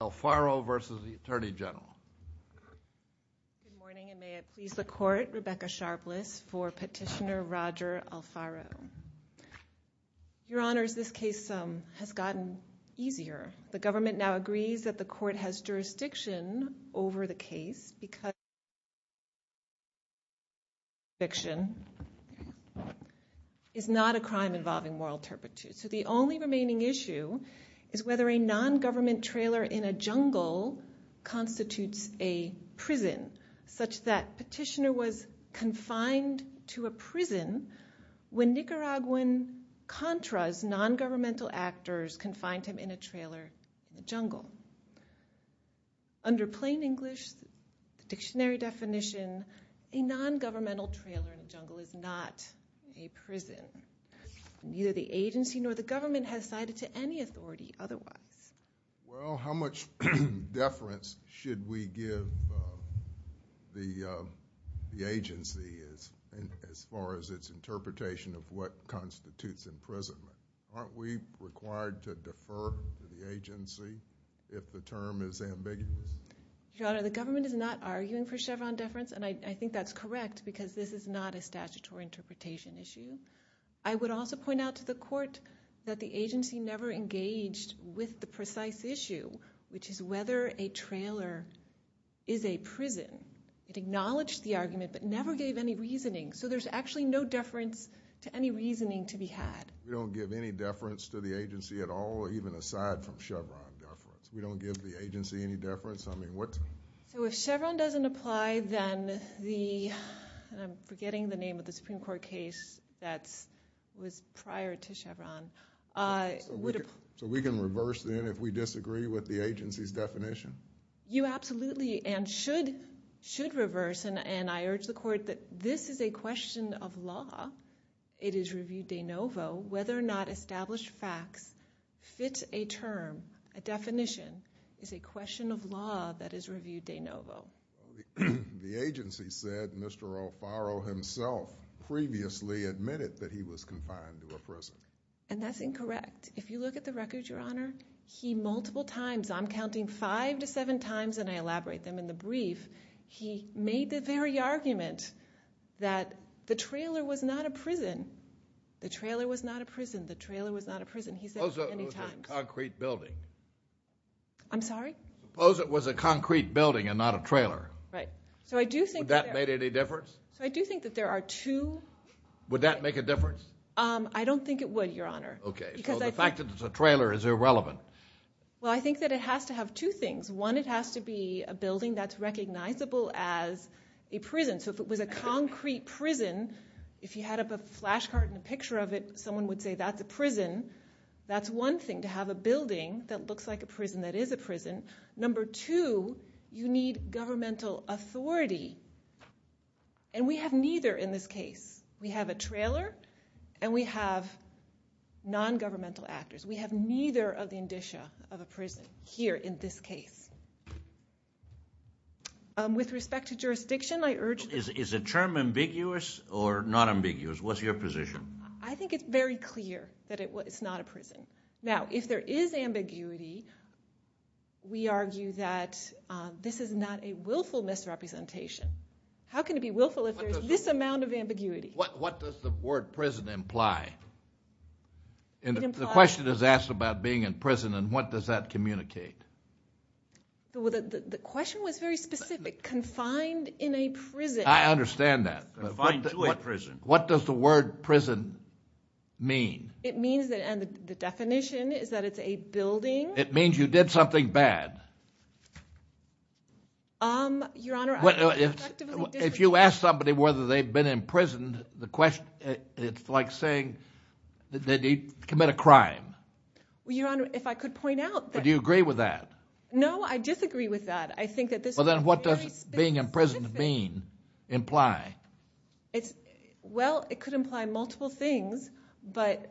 Good morning, and may it please the Court, Rebecca Sharpless for Petitioner Roger Alfaro. Your Honors, this case has gotten easier. The government now agrees that the Court has jurisdiction over the case, because it is not a crime involving moral turpitude. So the only remaining issue is whether a non-government trailer in a jungle constitutes a prison, such that Petitioner was confined to a prison when Nicaraguan Contras, non-governmental actors confined him in a trailer in the jungle. Under plain English, the dictionary definition, a non-governmental trailer in a jungle is not a prison. Neither the agency nor the government has cited to any authority otherwise. Well, how much deference should we give the agency as far as its interpretation of what constitutes imprisonment? Aren't we required to defer to the agency if the term is ambiguous? Your Honor, the government is not arguing for Chevron deference, and I think that's correct, because this is not a statutory interpretation issue. I would also point out to the Court that the agency never engaged with the precise issue, which is whether a trailer is a prison. It acknowledged the argument, but never gave any reasoning. So there's actually no deference to any reasoning to be had. We don't give any deference to the agency at all, even aside from Chevron deference. We don't give the agency any deference? I mean, what's the... So if Chevron doesn't apply, then the... I'm forgetting the name of the Supreme Court case that was prior to Chevron. So we can reverse then if we disagree with the agency's definition? You absolutely, and should reverse, and I urge the Court that this is a question of law. It is review de novo. Whether or not The agency said Mr. O'Farrell himself previously admitted that he was confined to a prison. And that's incorrect. If you look at the record, Your Honor, he multiple times, I'm counting five to seven times, and I elaborate them in the brief, he made the very argument that the trailer was not a prison. The trailer was not a prison. The trailer was not a prison. He said that many times. Suppose it was a concrete building. I'm sorry? Suppose it was a concrete building and not a trailer. Right. So I do think that... Would that make any difference? So I do think that there are two... Would that make a difference? I don't think it would, Your Honor. Okay. Because I think... So the fact that it's a trailer is irrelevant. Well, I think that it has to have two things. One, it has to be a building that's recognizable as a prison. So if it was a concrete prison, if you had up a flash card and a picture of it, someone would say that's a prison. That's one thing, to have a building that looks like a prison that is a prison. Number two, you need governmental authority. And we have neither in this case. We have a trailer, and we have non-governmental actors. We have neither of the indicia of a prison here in this case. With respect to jurisdiction, I urge... Is the term ambiguous or non-ambiguous? What's your position? I think it's very clear that it's not a prison. Now, if there is ambiguity, we argue that this is not a willful misrepresentation. How can it be willful if there's this amount of ambiguity? What does the word prison imply? The question is asked about being in prison, and what does that communicate? The question was very specific. Confined in a prison... I understand that, but what does the word prison mean? It means that, and the definition is that it's a building... It means you did something bad. Your Honor, I... If you ask somebody whether they've been imprisoned, it's like saying that they commit a crime. Well, Your Honor, if I could point out that... Do you agree with that? No, I disagree with that. I think that this... Well, then what does being in prison mean, imply? Well, it could imply multiple things, but...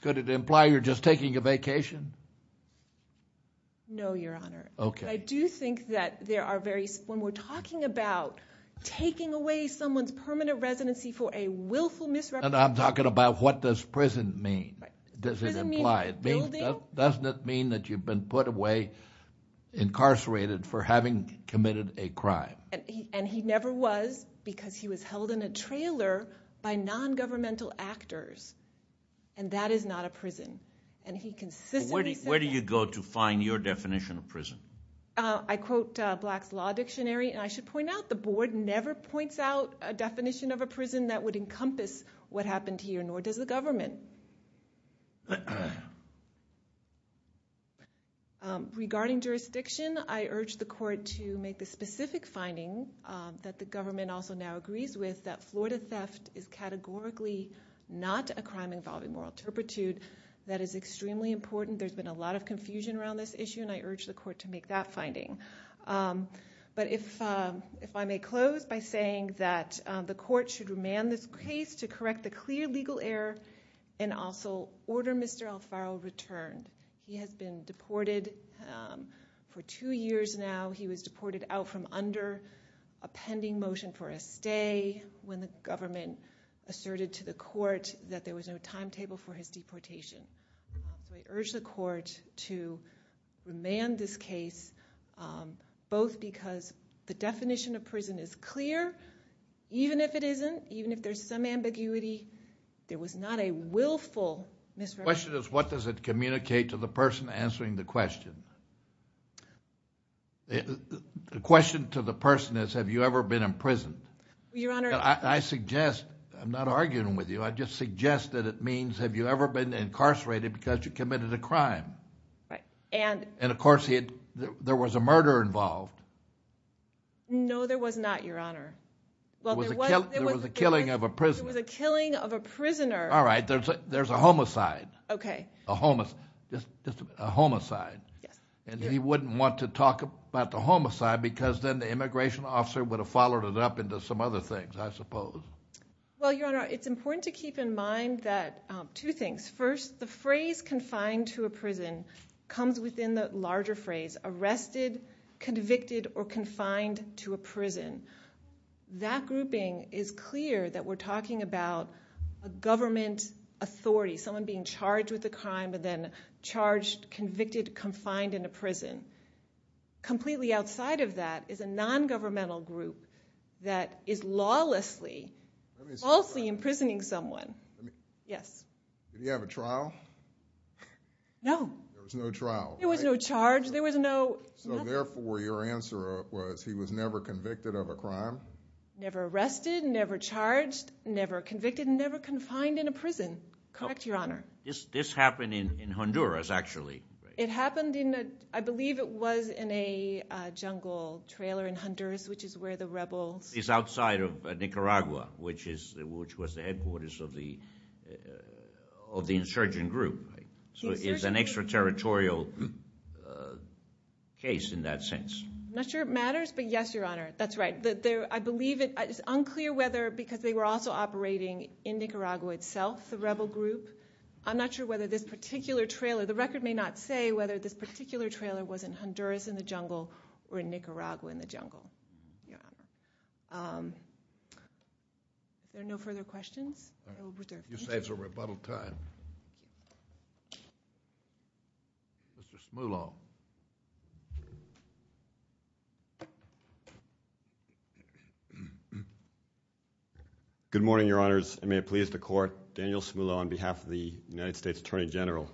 Could it imply you're just taking a vacation? No, Your Honor. Okay. I do think that there are very... When we're talking about taking away someone's permanent residency for a willful misrepresentation... And I'm talking about what does prison mean. Does it imply... Prison means a building... And he never was because he was held in a trailer by non-governmental actors, and that is not a prison. And he consistently said... Where do you go to find your definition of prison? I quote Black's Law Dictionary, and I should point out the board never points out a definition of a prison that would encompass what happened here, nor does the government. Okay. Regarding jurisdiction, I urge the court to make the specific finding that the government also now agrees with, that Florida theft is categorically not a crime involving moral turpitude. That is extremely important. There's been a lot of confusion around this issue, and I urge the court to make that finding. But if I may close by saying that the court should remand this case to correct the clear legal error and also order Mr. Alfaro returned. He has been deported for two years now. He was deported out from under a pending motion for a stay when the government asserted to the court that there was no timetable for his deportation. So I urge the court to remand this case, both because the definition of prison is clear, even if it isn't, even if there's some ambiguity. There was not a willful misrepresentation. The question is, what does it communicate to the person answering the question? The question to the person is, have you ever been imprisoned? Your Honor... I suggest, I'm not arguing with you, I just suggest that it means, have you ever been incarcerated because you committed a crime? Right, and... And of course there was a murder involved. No, there was not, Your Honor. There was a killing of a prisoner. There was a killing of a prisoner. All right, there's a homicide. Okay. A homicide. Yes. And he wouldn't want to talk about the homicide because then the immigration officer would have followed it up into some other things, I suppose. Well, Your Honor, it's important to keep in mind that, two things. First, the phrase confined to a prison comes within the larger phrase, arrested, convicted, or confined to a prison. That grouping is clear that we're talking about a government authority, someone being charged with a crime and then charged, convicted, confined in a prison. Completely outside of that is a non-governmental group that is lawlessly, falsely imprisoning someone. Yes. Did he have a trial? No. There was no trial, right? There was no charge, there was no... So, therefore, your answer was he was never convicted of a crime? Never arrested, never charged, never convicted, and never confined in a prison. Correct, Your Honor. This happened in Honduras, actually. It happened in a – I believe it was in a jungle trailer in Honduras, which is where the rebels... It's outside of Nicaragua, which was the headquarters of the insurgent group. So it's an extraterritorial case in that sense. I'm not sure it matters, but yes, Your Honor, that's right. I believe it's unclear whether because they were also operating in Nicaragua itself, the rebel group. I'm not sure whether this particular trailer – the record may not say whether this particular trailer was in Honduras in the jungle or in Nicaragua in the jungle. Your Honor. Are there no further questions? You saved a rebuttal time. Mr. Smullo. Good morning, Your Honors, and may it please the Court. Daniel Smullo on behalf of the United States Attorney General.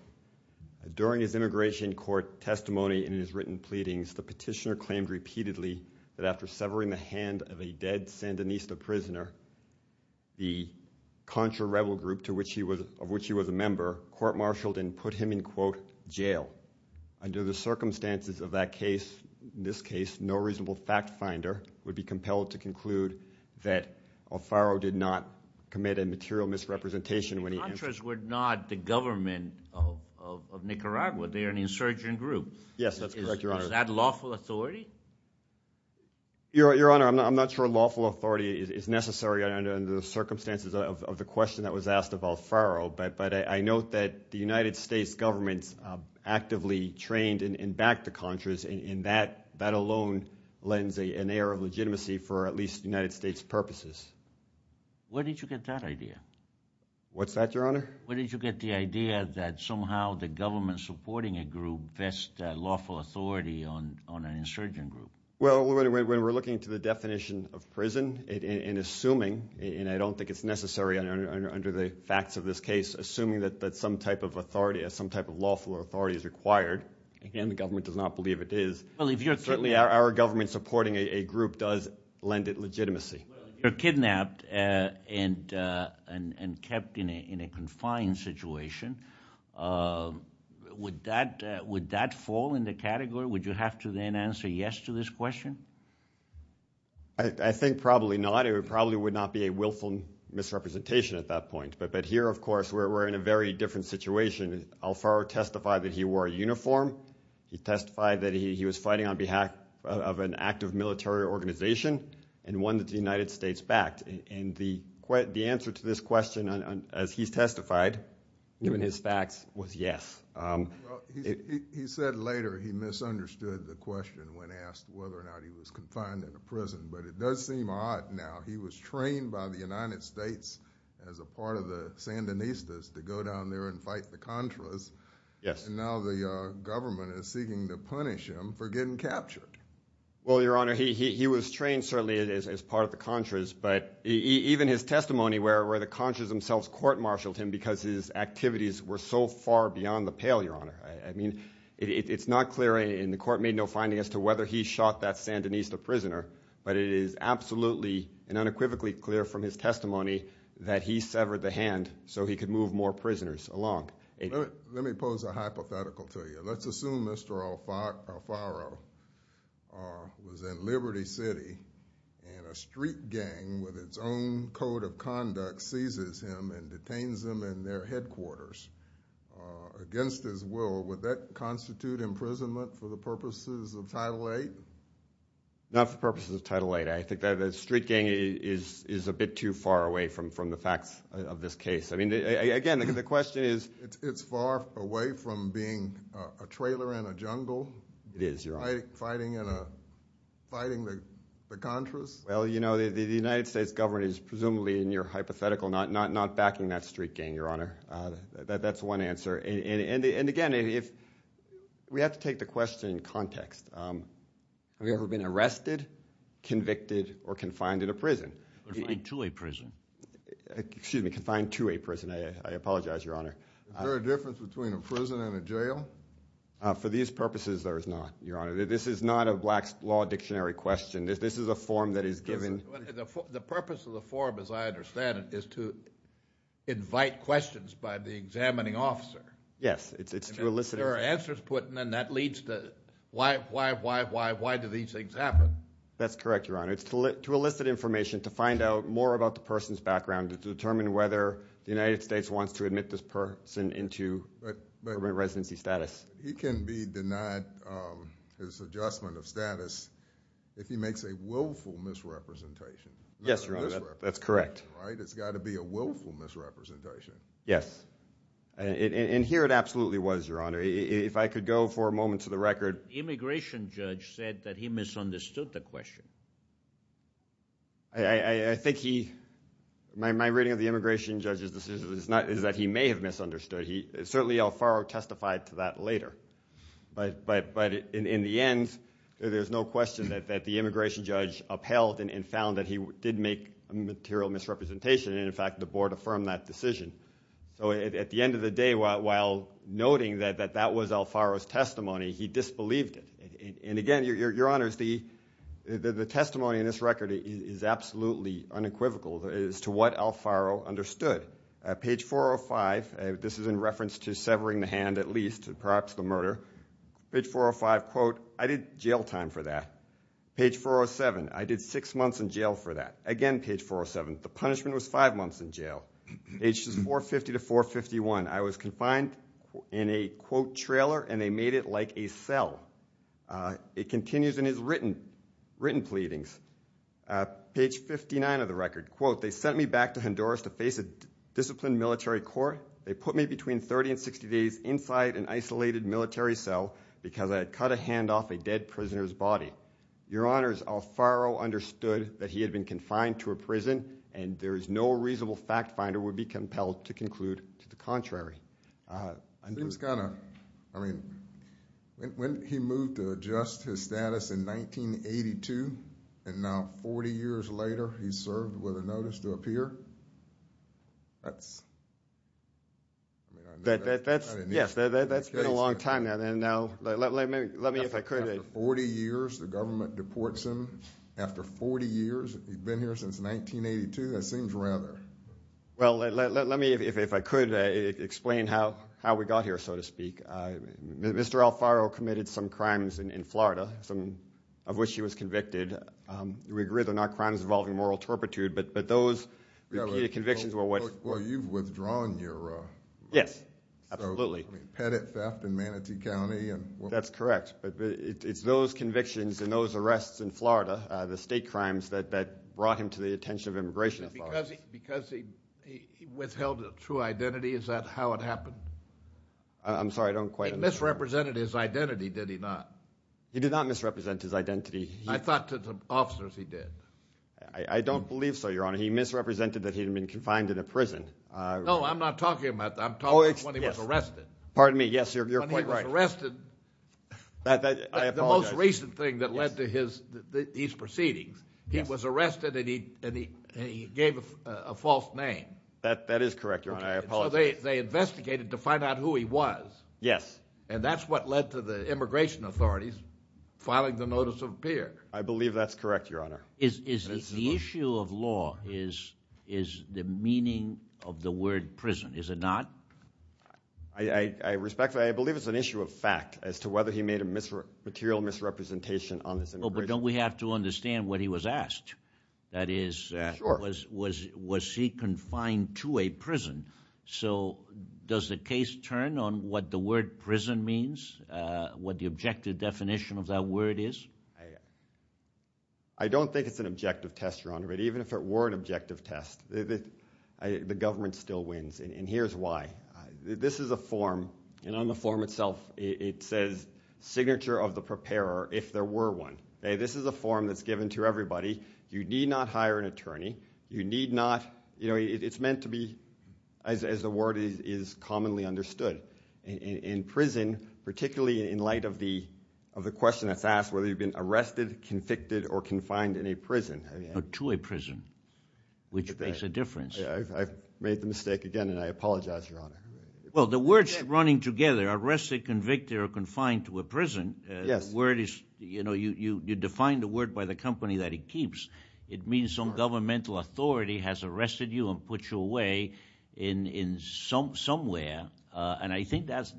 During his immigration court testimony and in his written pleadings, the petitioner claimed repeatedly that after severing the hand of a dead Sandinista prisoner, the Contra rebel group, of which he was a member, court-martialed and put him in, quote, jail. Under the circumstances of that case, in this case, no reasonable fact finder would be compelled to conclude that Alfaro did not commit a material misrepresentation. The Contras were not the government of Nicaragua. They're an insurgent group. Yes, that's correct, Your Honor. Is that lawful authority? Your Honor, I'm not sure lawful authority is necessary under the circumstances of the question that was asked of Alfaro, but I note that the United States government actively trained and backed the Contras, and that alone lends an air of legitimacy for at least United States purposes. Where did you get that idea? What's that, Your Honor? Where did you get the idea that somehow the government supporting a group vests lawful authority on an insurgent group? Well, when we're looking to the definition of prison and assuming, and I don't think it's necessary under the facts of this case, assuming that some type of lawful authority is required, and the government does not believe it is, certainly our government supporting a group does lend it legitimacy. Well, if you're kidnapped and kept in a confined situation, would that fall in the category? Would you have to then answer yes to this question? I think probably not. It probably would not be a willful misrepresentation at that point. But here, of course, we're in a very different situation. Alfaro testified that he wore a uniform. He testified that he was fighting on behalf of an active military organization and one that the United States backed. And the answer to this question, as he's testified, given his facts, was yes. He said later he misunderstood the question when asked whether or not he was confined in a prison. But it does seem odd now. He was trained by the United States as a part of the Sandinistas to go down there and fight the Contras. Yes. And now the government is seeking to punish him for getting captured. Well, Your Honor, he was trained, certainly, as part of the Contras. But even his testimony where the Contras themselves court-martialed him because his activities were so far beyond the pale, Your Honor. I mean, it's not clear, and the court made no finding as to whether he shot that Sandinista prisoner. But it is absolutely and unequivocally clear from his testimony that he severed the hand so he could move more prisoners along. Let me pose a hypothetical to you. Let's assume Mr. Alfaro was in Liberty City and a street gang with its own code of conduct seizes him and detains him in their headquarters against his will. Would that constitute imprisonment for the purposes of Title VIII? Not for purposes of Title VIII. I think that a street gang is a bit too far away from the facts of this case. I mean, again, the question is? It's far away from being a trailer in a jungle? It is, Your Honor. Fighting the Contras? Well, you know, the United States government is presumably, in your hypothetical, not backing that street gang, Your Honor. That's one answer. And, again, we have to take the question in context. Have you ever been arrested, convicted, or confined in a prison? Confined to a prison. Excuse me, confined to a prison. I apologize, Your Honor. Is there a difference between a prison and a jail? For these purposes, there is not, Your Honor. This is not a Black Law Dictionary question. This is a form that is given. The purpose of the form, as I understand it, is to invite questions by the examining officer. Yes, it's to elicit information. If there are answers put in, then that leads to why, why, why, why, why do these things happen? That's correct, Your Honor. It's to elicit information, to find out more about the person's background, to determine whether the United States wants to admit this person into permanent residency status. He can be denied his adjustment of status if he makes a willful misrepresentation. Yes, Your Honor, that's correct. It's got to be a willful misrepresentation. Yes, and here it absolutely was, Your Honor. If I could go for a moment to the record. The immigration judge said that he misunderstood the question. I think he – my reading of the immigration judge's decision is that he may have misunderstood. Certainly, Alfaro testified to that later. But in the end, there's no question that the immigration judge upheld and found that he did make a material misrepresentation, and, in fact, the board affirmed that decision. So at the end of the day, while noting that that was Alfaro's testimony, he disbelieved it. And, again, Your Honor, the testimony in this record is absolutely unequivocal as to what Alfaro understood. Page 405, this is in reference to severing the hand at least, perhaps the murder. Page 405, quote, I did jail time for that. Page 407, I did six months in jail for that. Again, page 407, the punishment was five months in jail. Pages 450 to 451, I was confined in a, quote, trailer, and they made it like a cell. It continues in his written pleadings. Page 59 of the record, quote, they sent me back to Honduras to face a disciplined military court. They put me between 30 and 60 days inside an isolated military cell because I had cut a hand off a dead prisoner's body. Well, Your Honors, Alfaro understood that he had been confined to a prison, and there is no reasonable fact finder would be compelled to conclude to the contrary. I think it's kind of, I mean, when he moved to adjust his status in 1982, and now 40 years later he's served with a notice to appear, that's, I mean, I knew that. Yes, that's been a long time now. And now let me, if I could. After 40 years, the government deports him. After 40 years, he's been here since 1982? That seems rather. Well, let me, if I could, explain how we got here, so to speak. Mr. Alfaro committed some crimes in Florida, some of which he was convicted. We agree they're not crimes involving moral turpitude, but those repeated convictions were what. Well, you've withdrawn your. Yes, absolutely. Petit theft in Manatee County. That's correct, but it's those convictions and those arrests in Florida, the state crimes that brought him to the attention of immigration. Because he withheld a true identity, is that how it happened? I'm sorry, I don't quite understand. He misrepresented his identity, did he not? He did not misrepresent his identity. I thought to the officers he did. I don't believe so, Your Honor. He misrepresented that he had been confined in a prison. No, I'm not talking about that. I'm talking about when he was arrested. Pardon me, yes, you're quite right. When he was arrested, the most recent thing that led to his proceedings, he was arrested and he gave a false name. That is correct, Your Honor. I apologize. So they investigated to find out who he was. Yes. And that's what led to the immigration authorities filing the notice of appear. I believe that's correct, Your Honor. The issue of law is the meaning of the word prison, is it not? I respect that. I believe it's an issue of fact as to whether he made a material misrepresentation on this immigration. But don't we have to understand what he was asked? That is, was he confined to a prison? So does the case turn on what the word prison means, what the objective definition of that word is? I don't think it's an objective test, Your Honor, but even if it were an objective test, the government still wins. And here's why. This is a form, and on the form itself it says signature of the preparer if there were one. This is a form that's given to everybody. You need not hire an attorney. You need not, you know, it's meant to be, as the word is commonly understood, in prison, particularly in light of the question that's asked, whether you've been arrested, convicted, or confined in a prison. To a prison, which makes a difference. I've made the mistake again, and I apologize, Your Honor. Well, the words running together, arrested, convicted, or confined to a prison, the word is, you know, you define the word by the company that it keeps. It means some governmental authority has arrested you and put you away somewhere. Yeah, and I think that's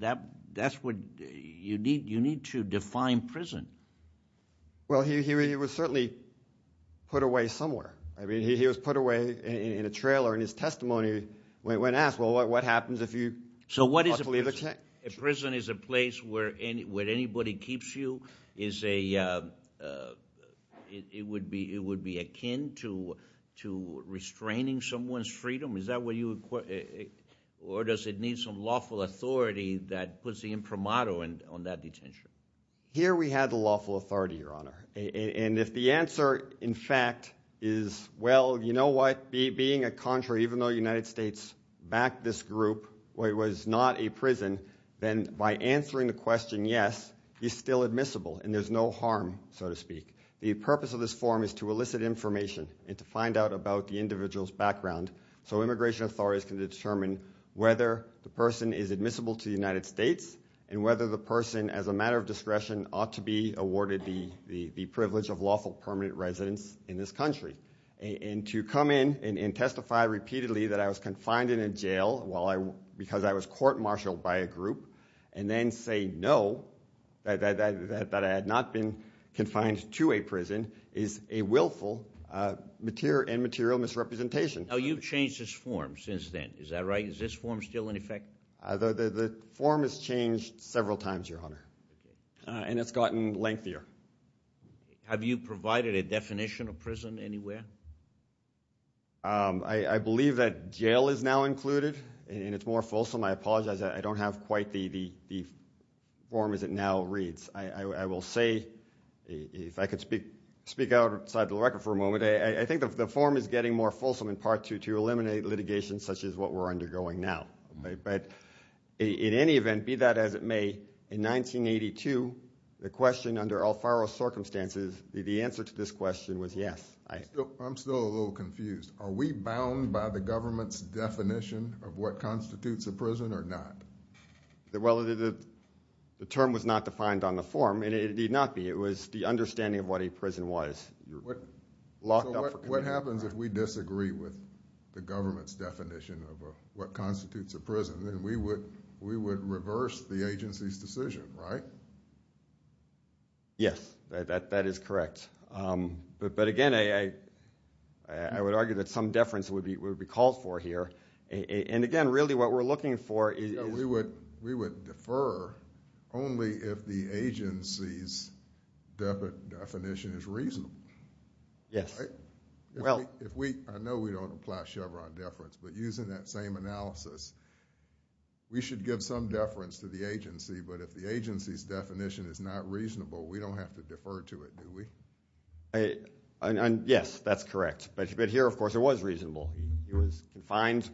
what you need to define prison. Well, he was certainly put away somewhere. I mean, he was put away in a trailer in his testimony when asked, well, what happens if you are to leave the country? So what is a prison? A prison is a place where anybody keeps you. It would be akin to restraining someone's freedom. Or does it need some lawful authority that puts the imprimato on that detention? Here we have the lawful authority, Your Honor. And if the answer, in fact, is, well, you know what, being a country, even though the United States backed this group, it was not a prison, then by answering the question yes, he's still admissible, and there's no harm, so to speak. The purpose of this forum is to elicit information and to find out about the individual's background. So immigration authorities can determine whether the person is admissible to the United States and whether the person, as a matter of discretion, ought to be awarded the privilege of lawful permanent residence in this country. And to come in and testify repeatedly that I was confined in a jail because I was court-martialed by a group and then say no, that I had not been confined to a prison, is a willful and material misrepresentation. Now, you've changed this forum since then, is that right? Is this forum still in effect? The forum has changed several times, Your Honor. And it's gotten lengthier. Have you provided a definition of prison anywhere? I believe that jail is now included, and it's more fulsome. I apologize, I don't have quite the forum as it now reads. I will say, if I could speak outside the record for a moment, I think the forum is getting more fulsome in part to eliminate litigation such as what we're undergoing now. But in any event, be that as it may, in 1982, the question under Alfaro's circumstances, the answer to this question was yes. I'm still a little confused. Are we bound by the government's definition of what constitutes a prison or not? Well, the term was not defined on the forum, and it need not be. It was the understanding of what a prison was. What happens if we disagree with the government's definition of what constitutes a prison? Then we would reverse the agency's decision, right? Yes, that is correct. But again, I would argue that some deference would be called for here. Again, really what we're looking for is- We would defer only if the agency's definition is reasonable. Yes. I know we don't apply Chevron deference, but using that same analysis, we should give some deference to the agency. But if the agency's definition is not reasonable, we don't have to defer to it, do we? Yes, that's correct. But here, of course, it was reasonable. He was confined,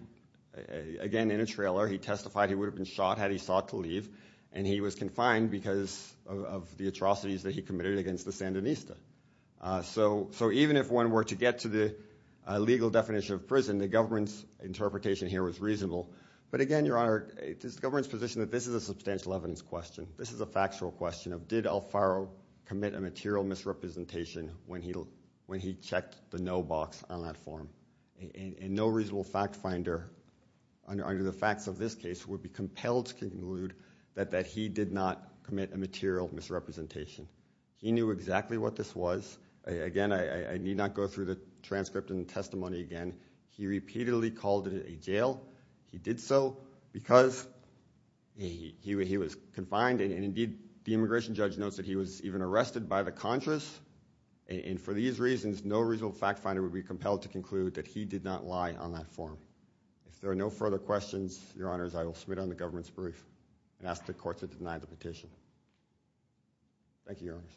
again, in a trailer. He testified he would have been shot had he sought to leave, and he was confined because of the atrocities that he committed against the Sandinista. So even if one were to get to the legal definition of prison, the government's interpretation here was reasonable. But again, Your Honor, it is the government's position that this is a substantial evidence question. This is a factual question of did Alfaro commit a material misrepresentation when he checked the no box on that form. And no reasonable fact finder, under the facts of this case, would be compelled to conclude that he did not commit a material misrepresentation. He knew exactly what this was. Again, I need not go through the transcript and testimony again. He repeatedly called it a jail. He did so because he was confined. And indeed, the immigration judge notes that he was even arrested by the Contras. And for these reasons, no reasonable fact finder would be compelled to conclude that he did not lie on that form. If there are no further questions, Your Honors, I will submit it on the government's brief and ask the courts to deny the petition. Thank you, Your Honors.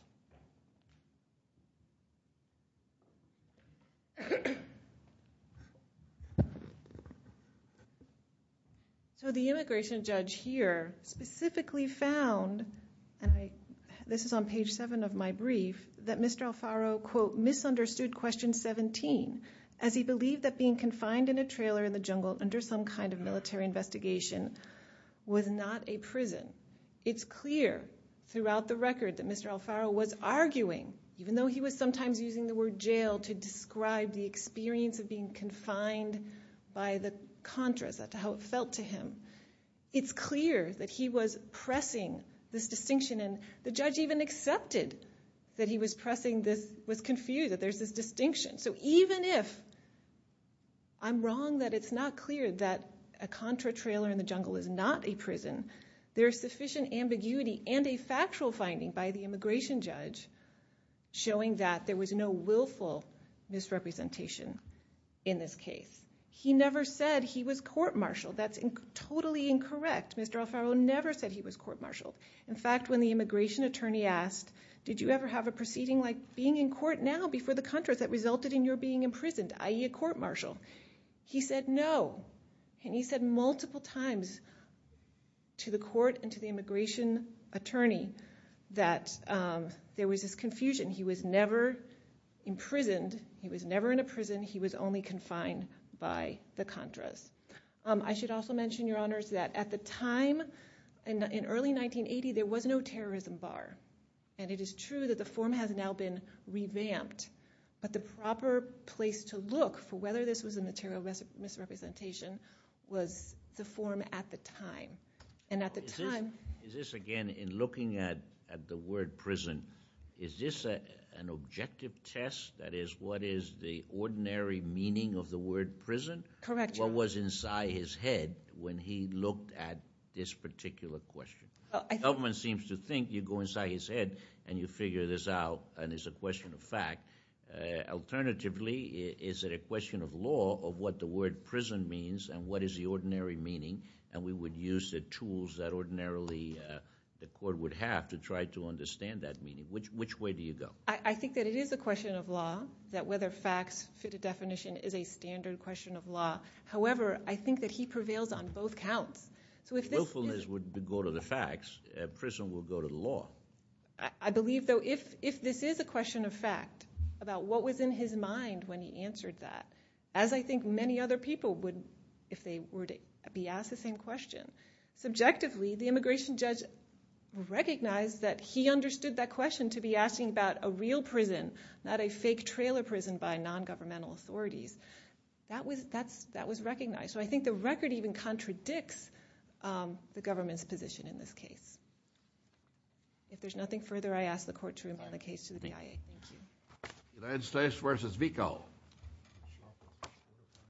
So the immigration judge here specifically found, and this is on page 7 of my brief, that Mr. Alfaro, quote, misunderstood question 17, as he believed that being confined in a trailer in the jungle under some kind of military investigation was not a prison. It's clear throughout the record that Mr. Alfaro was arguing, even though he was sometimes using the word jail to describe the experience of being confined by the Contras, that's how it felt to him. It's clear that he was pressing this distinction, and the judge even accepted that he was pressing this, was confused that there's this distinction. So even if I'm wrong that it's not clear that a Contra trailer in the jungle is not a prison, there's sufficient ambiguity and a factual finding by the immigration judge showing that there was no willful misrepresentation in this case. He never said he was court-martialed. That's totally incorrect. Mr. Alfaro never said he was court-martialed. In fact, when the immigration attorney asked, did you ever have a proceeding like being in court now before the Contras that resulted in your being imprisoned, i.e. a court-martial, he said no, and he said multiple times to the court and to the immigration attorney that there was this confusion. He was never imprisoned. He was never in a prison. He was only confined by the Contras. I should also mention, Your Honors, that at the time, in early 1980, there was no terrorism bar, and it is true that the form has now been revamped, but the proper place to look for whether this was a material misrepresentation was the form at the time. Is this, again, in looking at the word prison, is this an objective test? That is, what is the ordinary meaning of the word prison? Correct, Your Honor. What was inside his head when he looked at this particular question? The government seems to think you go inside his head and you figure this out, and it's a question of fact. Alternatively, is it a question of law of what the word prison means and what is the ordinary meaning, and we would use the tools that ordinarily the court would have to try to understand that meaning? Which way do you go? I think that it is a question of law, that whether facts fit a definition is a standard question of law. However, I think that he prevails on both counts. Willfulness would go to the facts. Prison would go to the law. I believe, though, if this is a question of fact about what was in his mind when he answered that, as I think many other people would if they were to be asked the same question, subjectively the immigration judge recognized that he understood that question to be asking about a real prison, not a fake trailer prison by nongovernmental authorities. That was recognized. So I think the record even contradicts the government's position in this case. If there's nothing further, I ask the court to remand the case to the BIA. Thank you. United States v. Vico.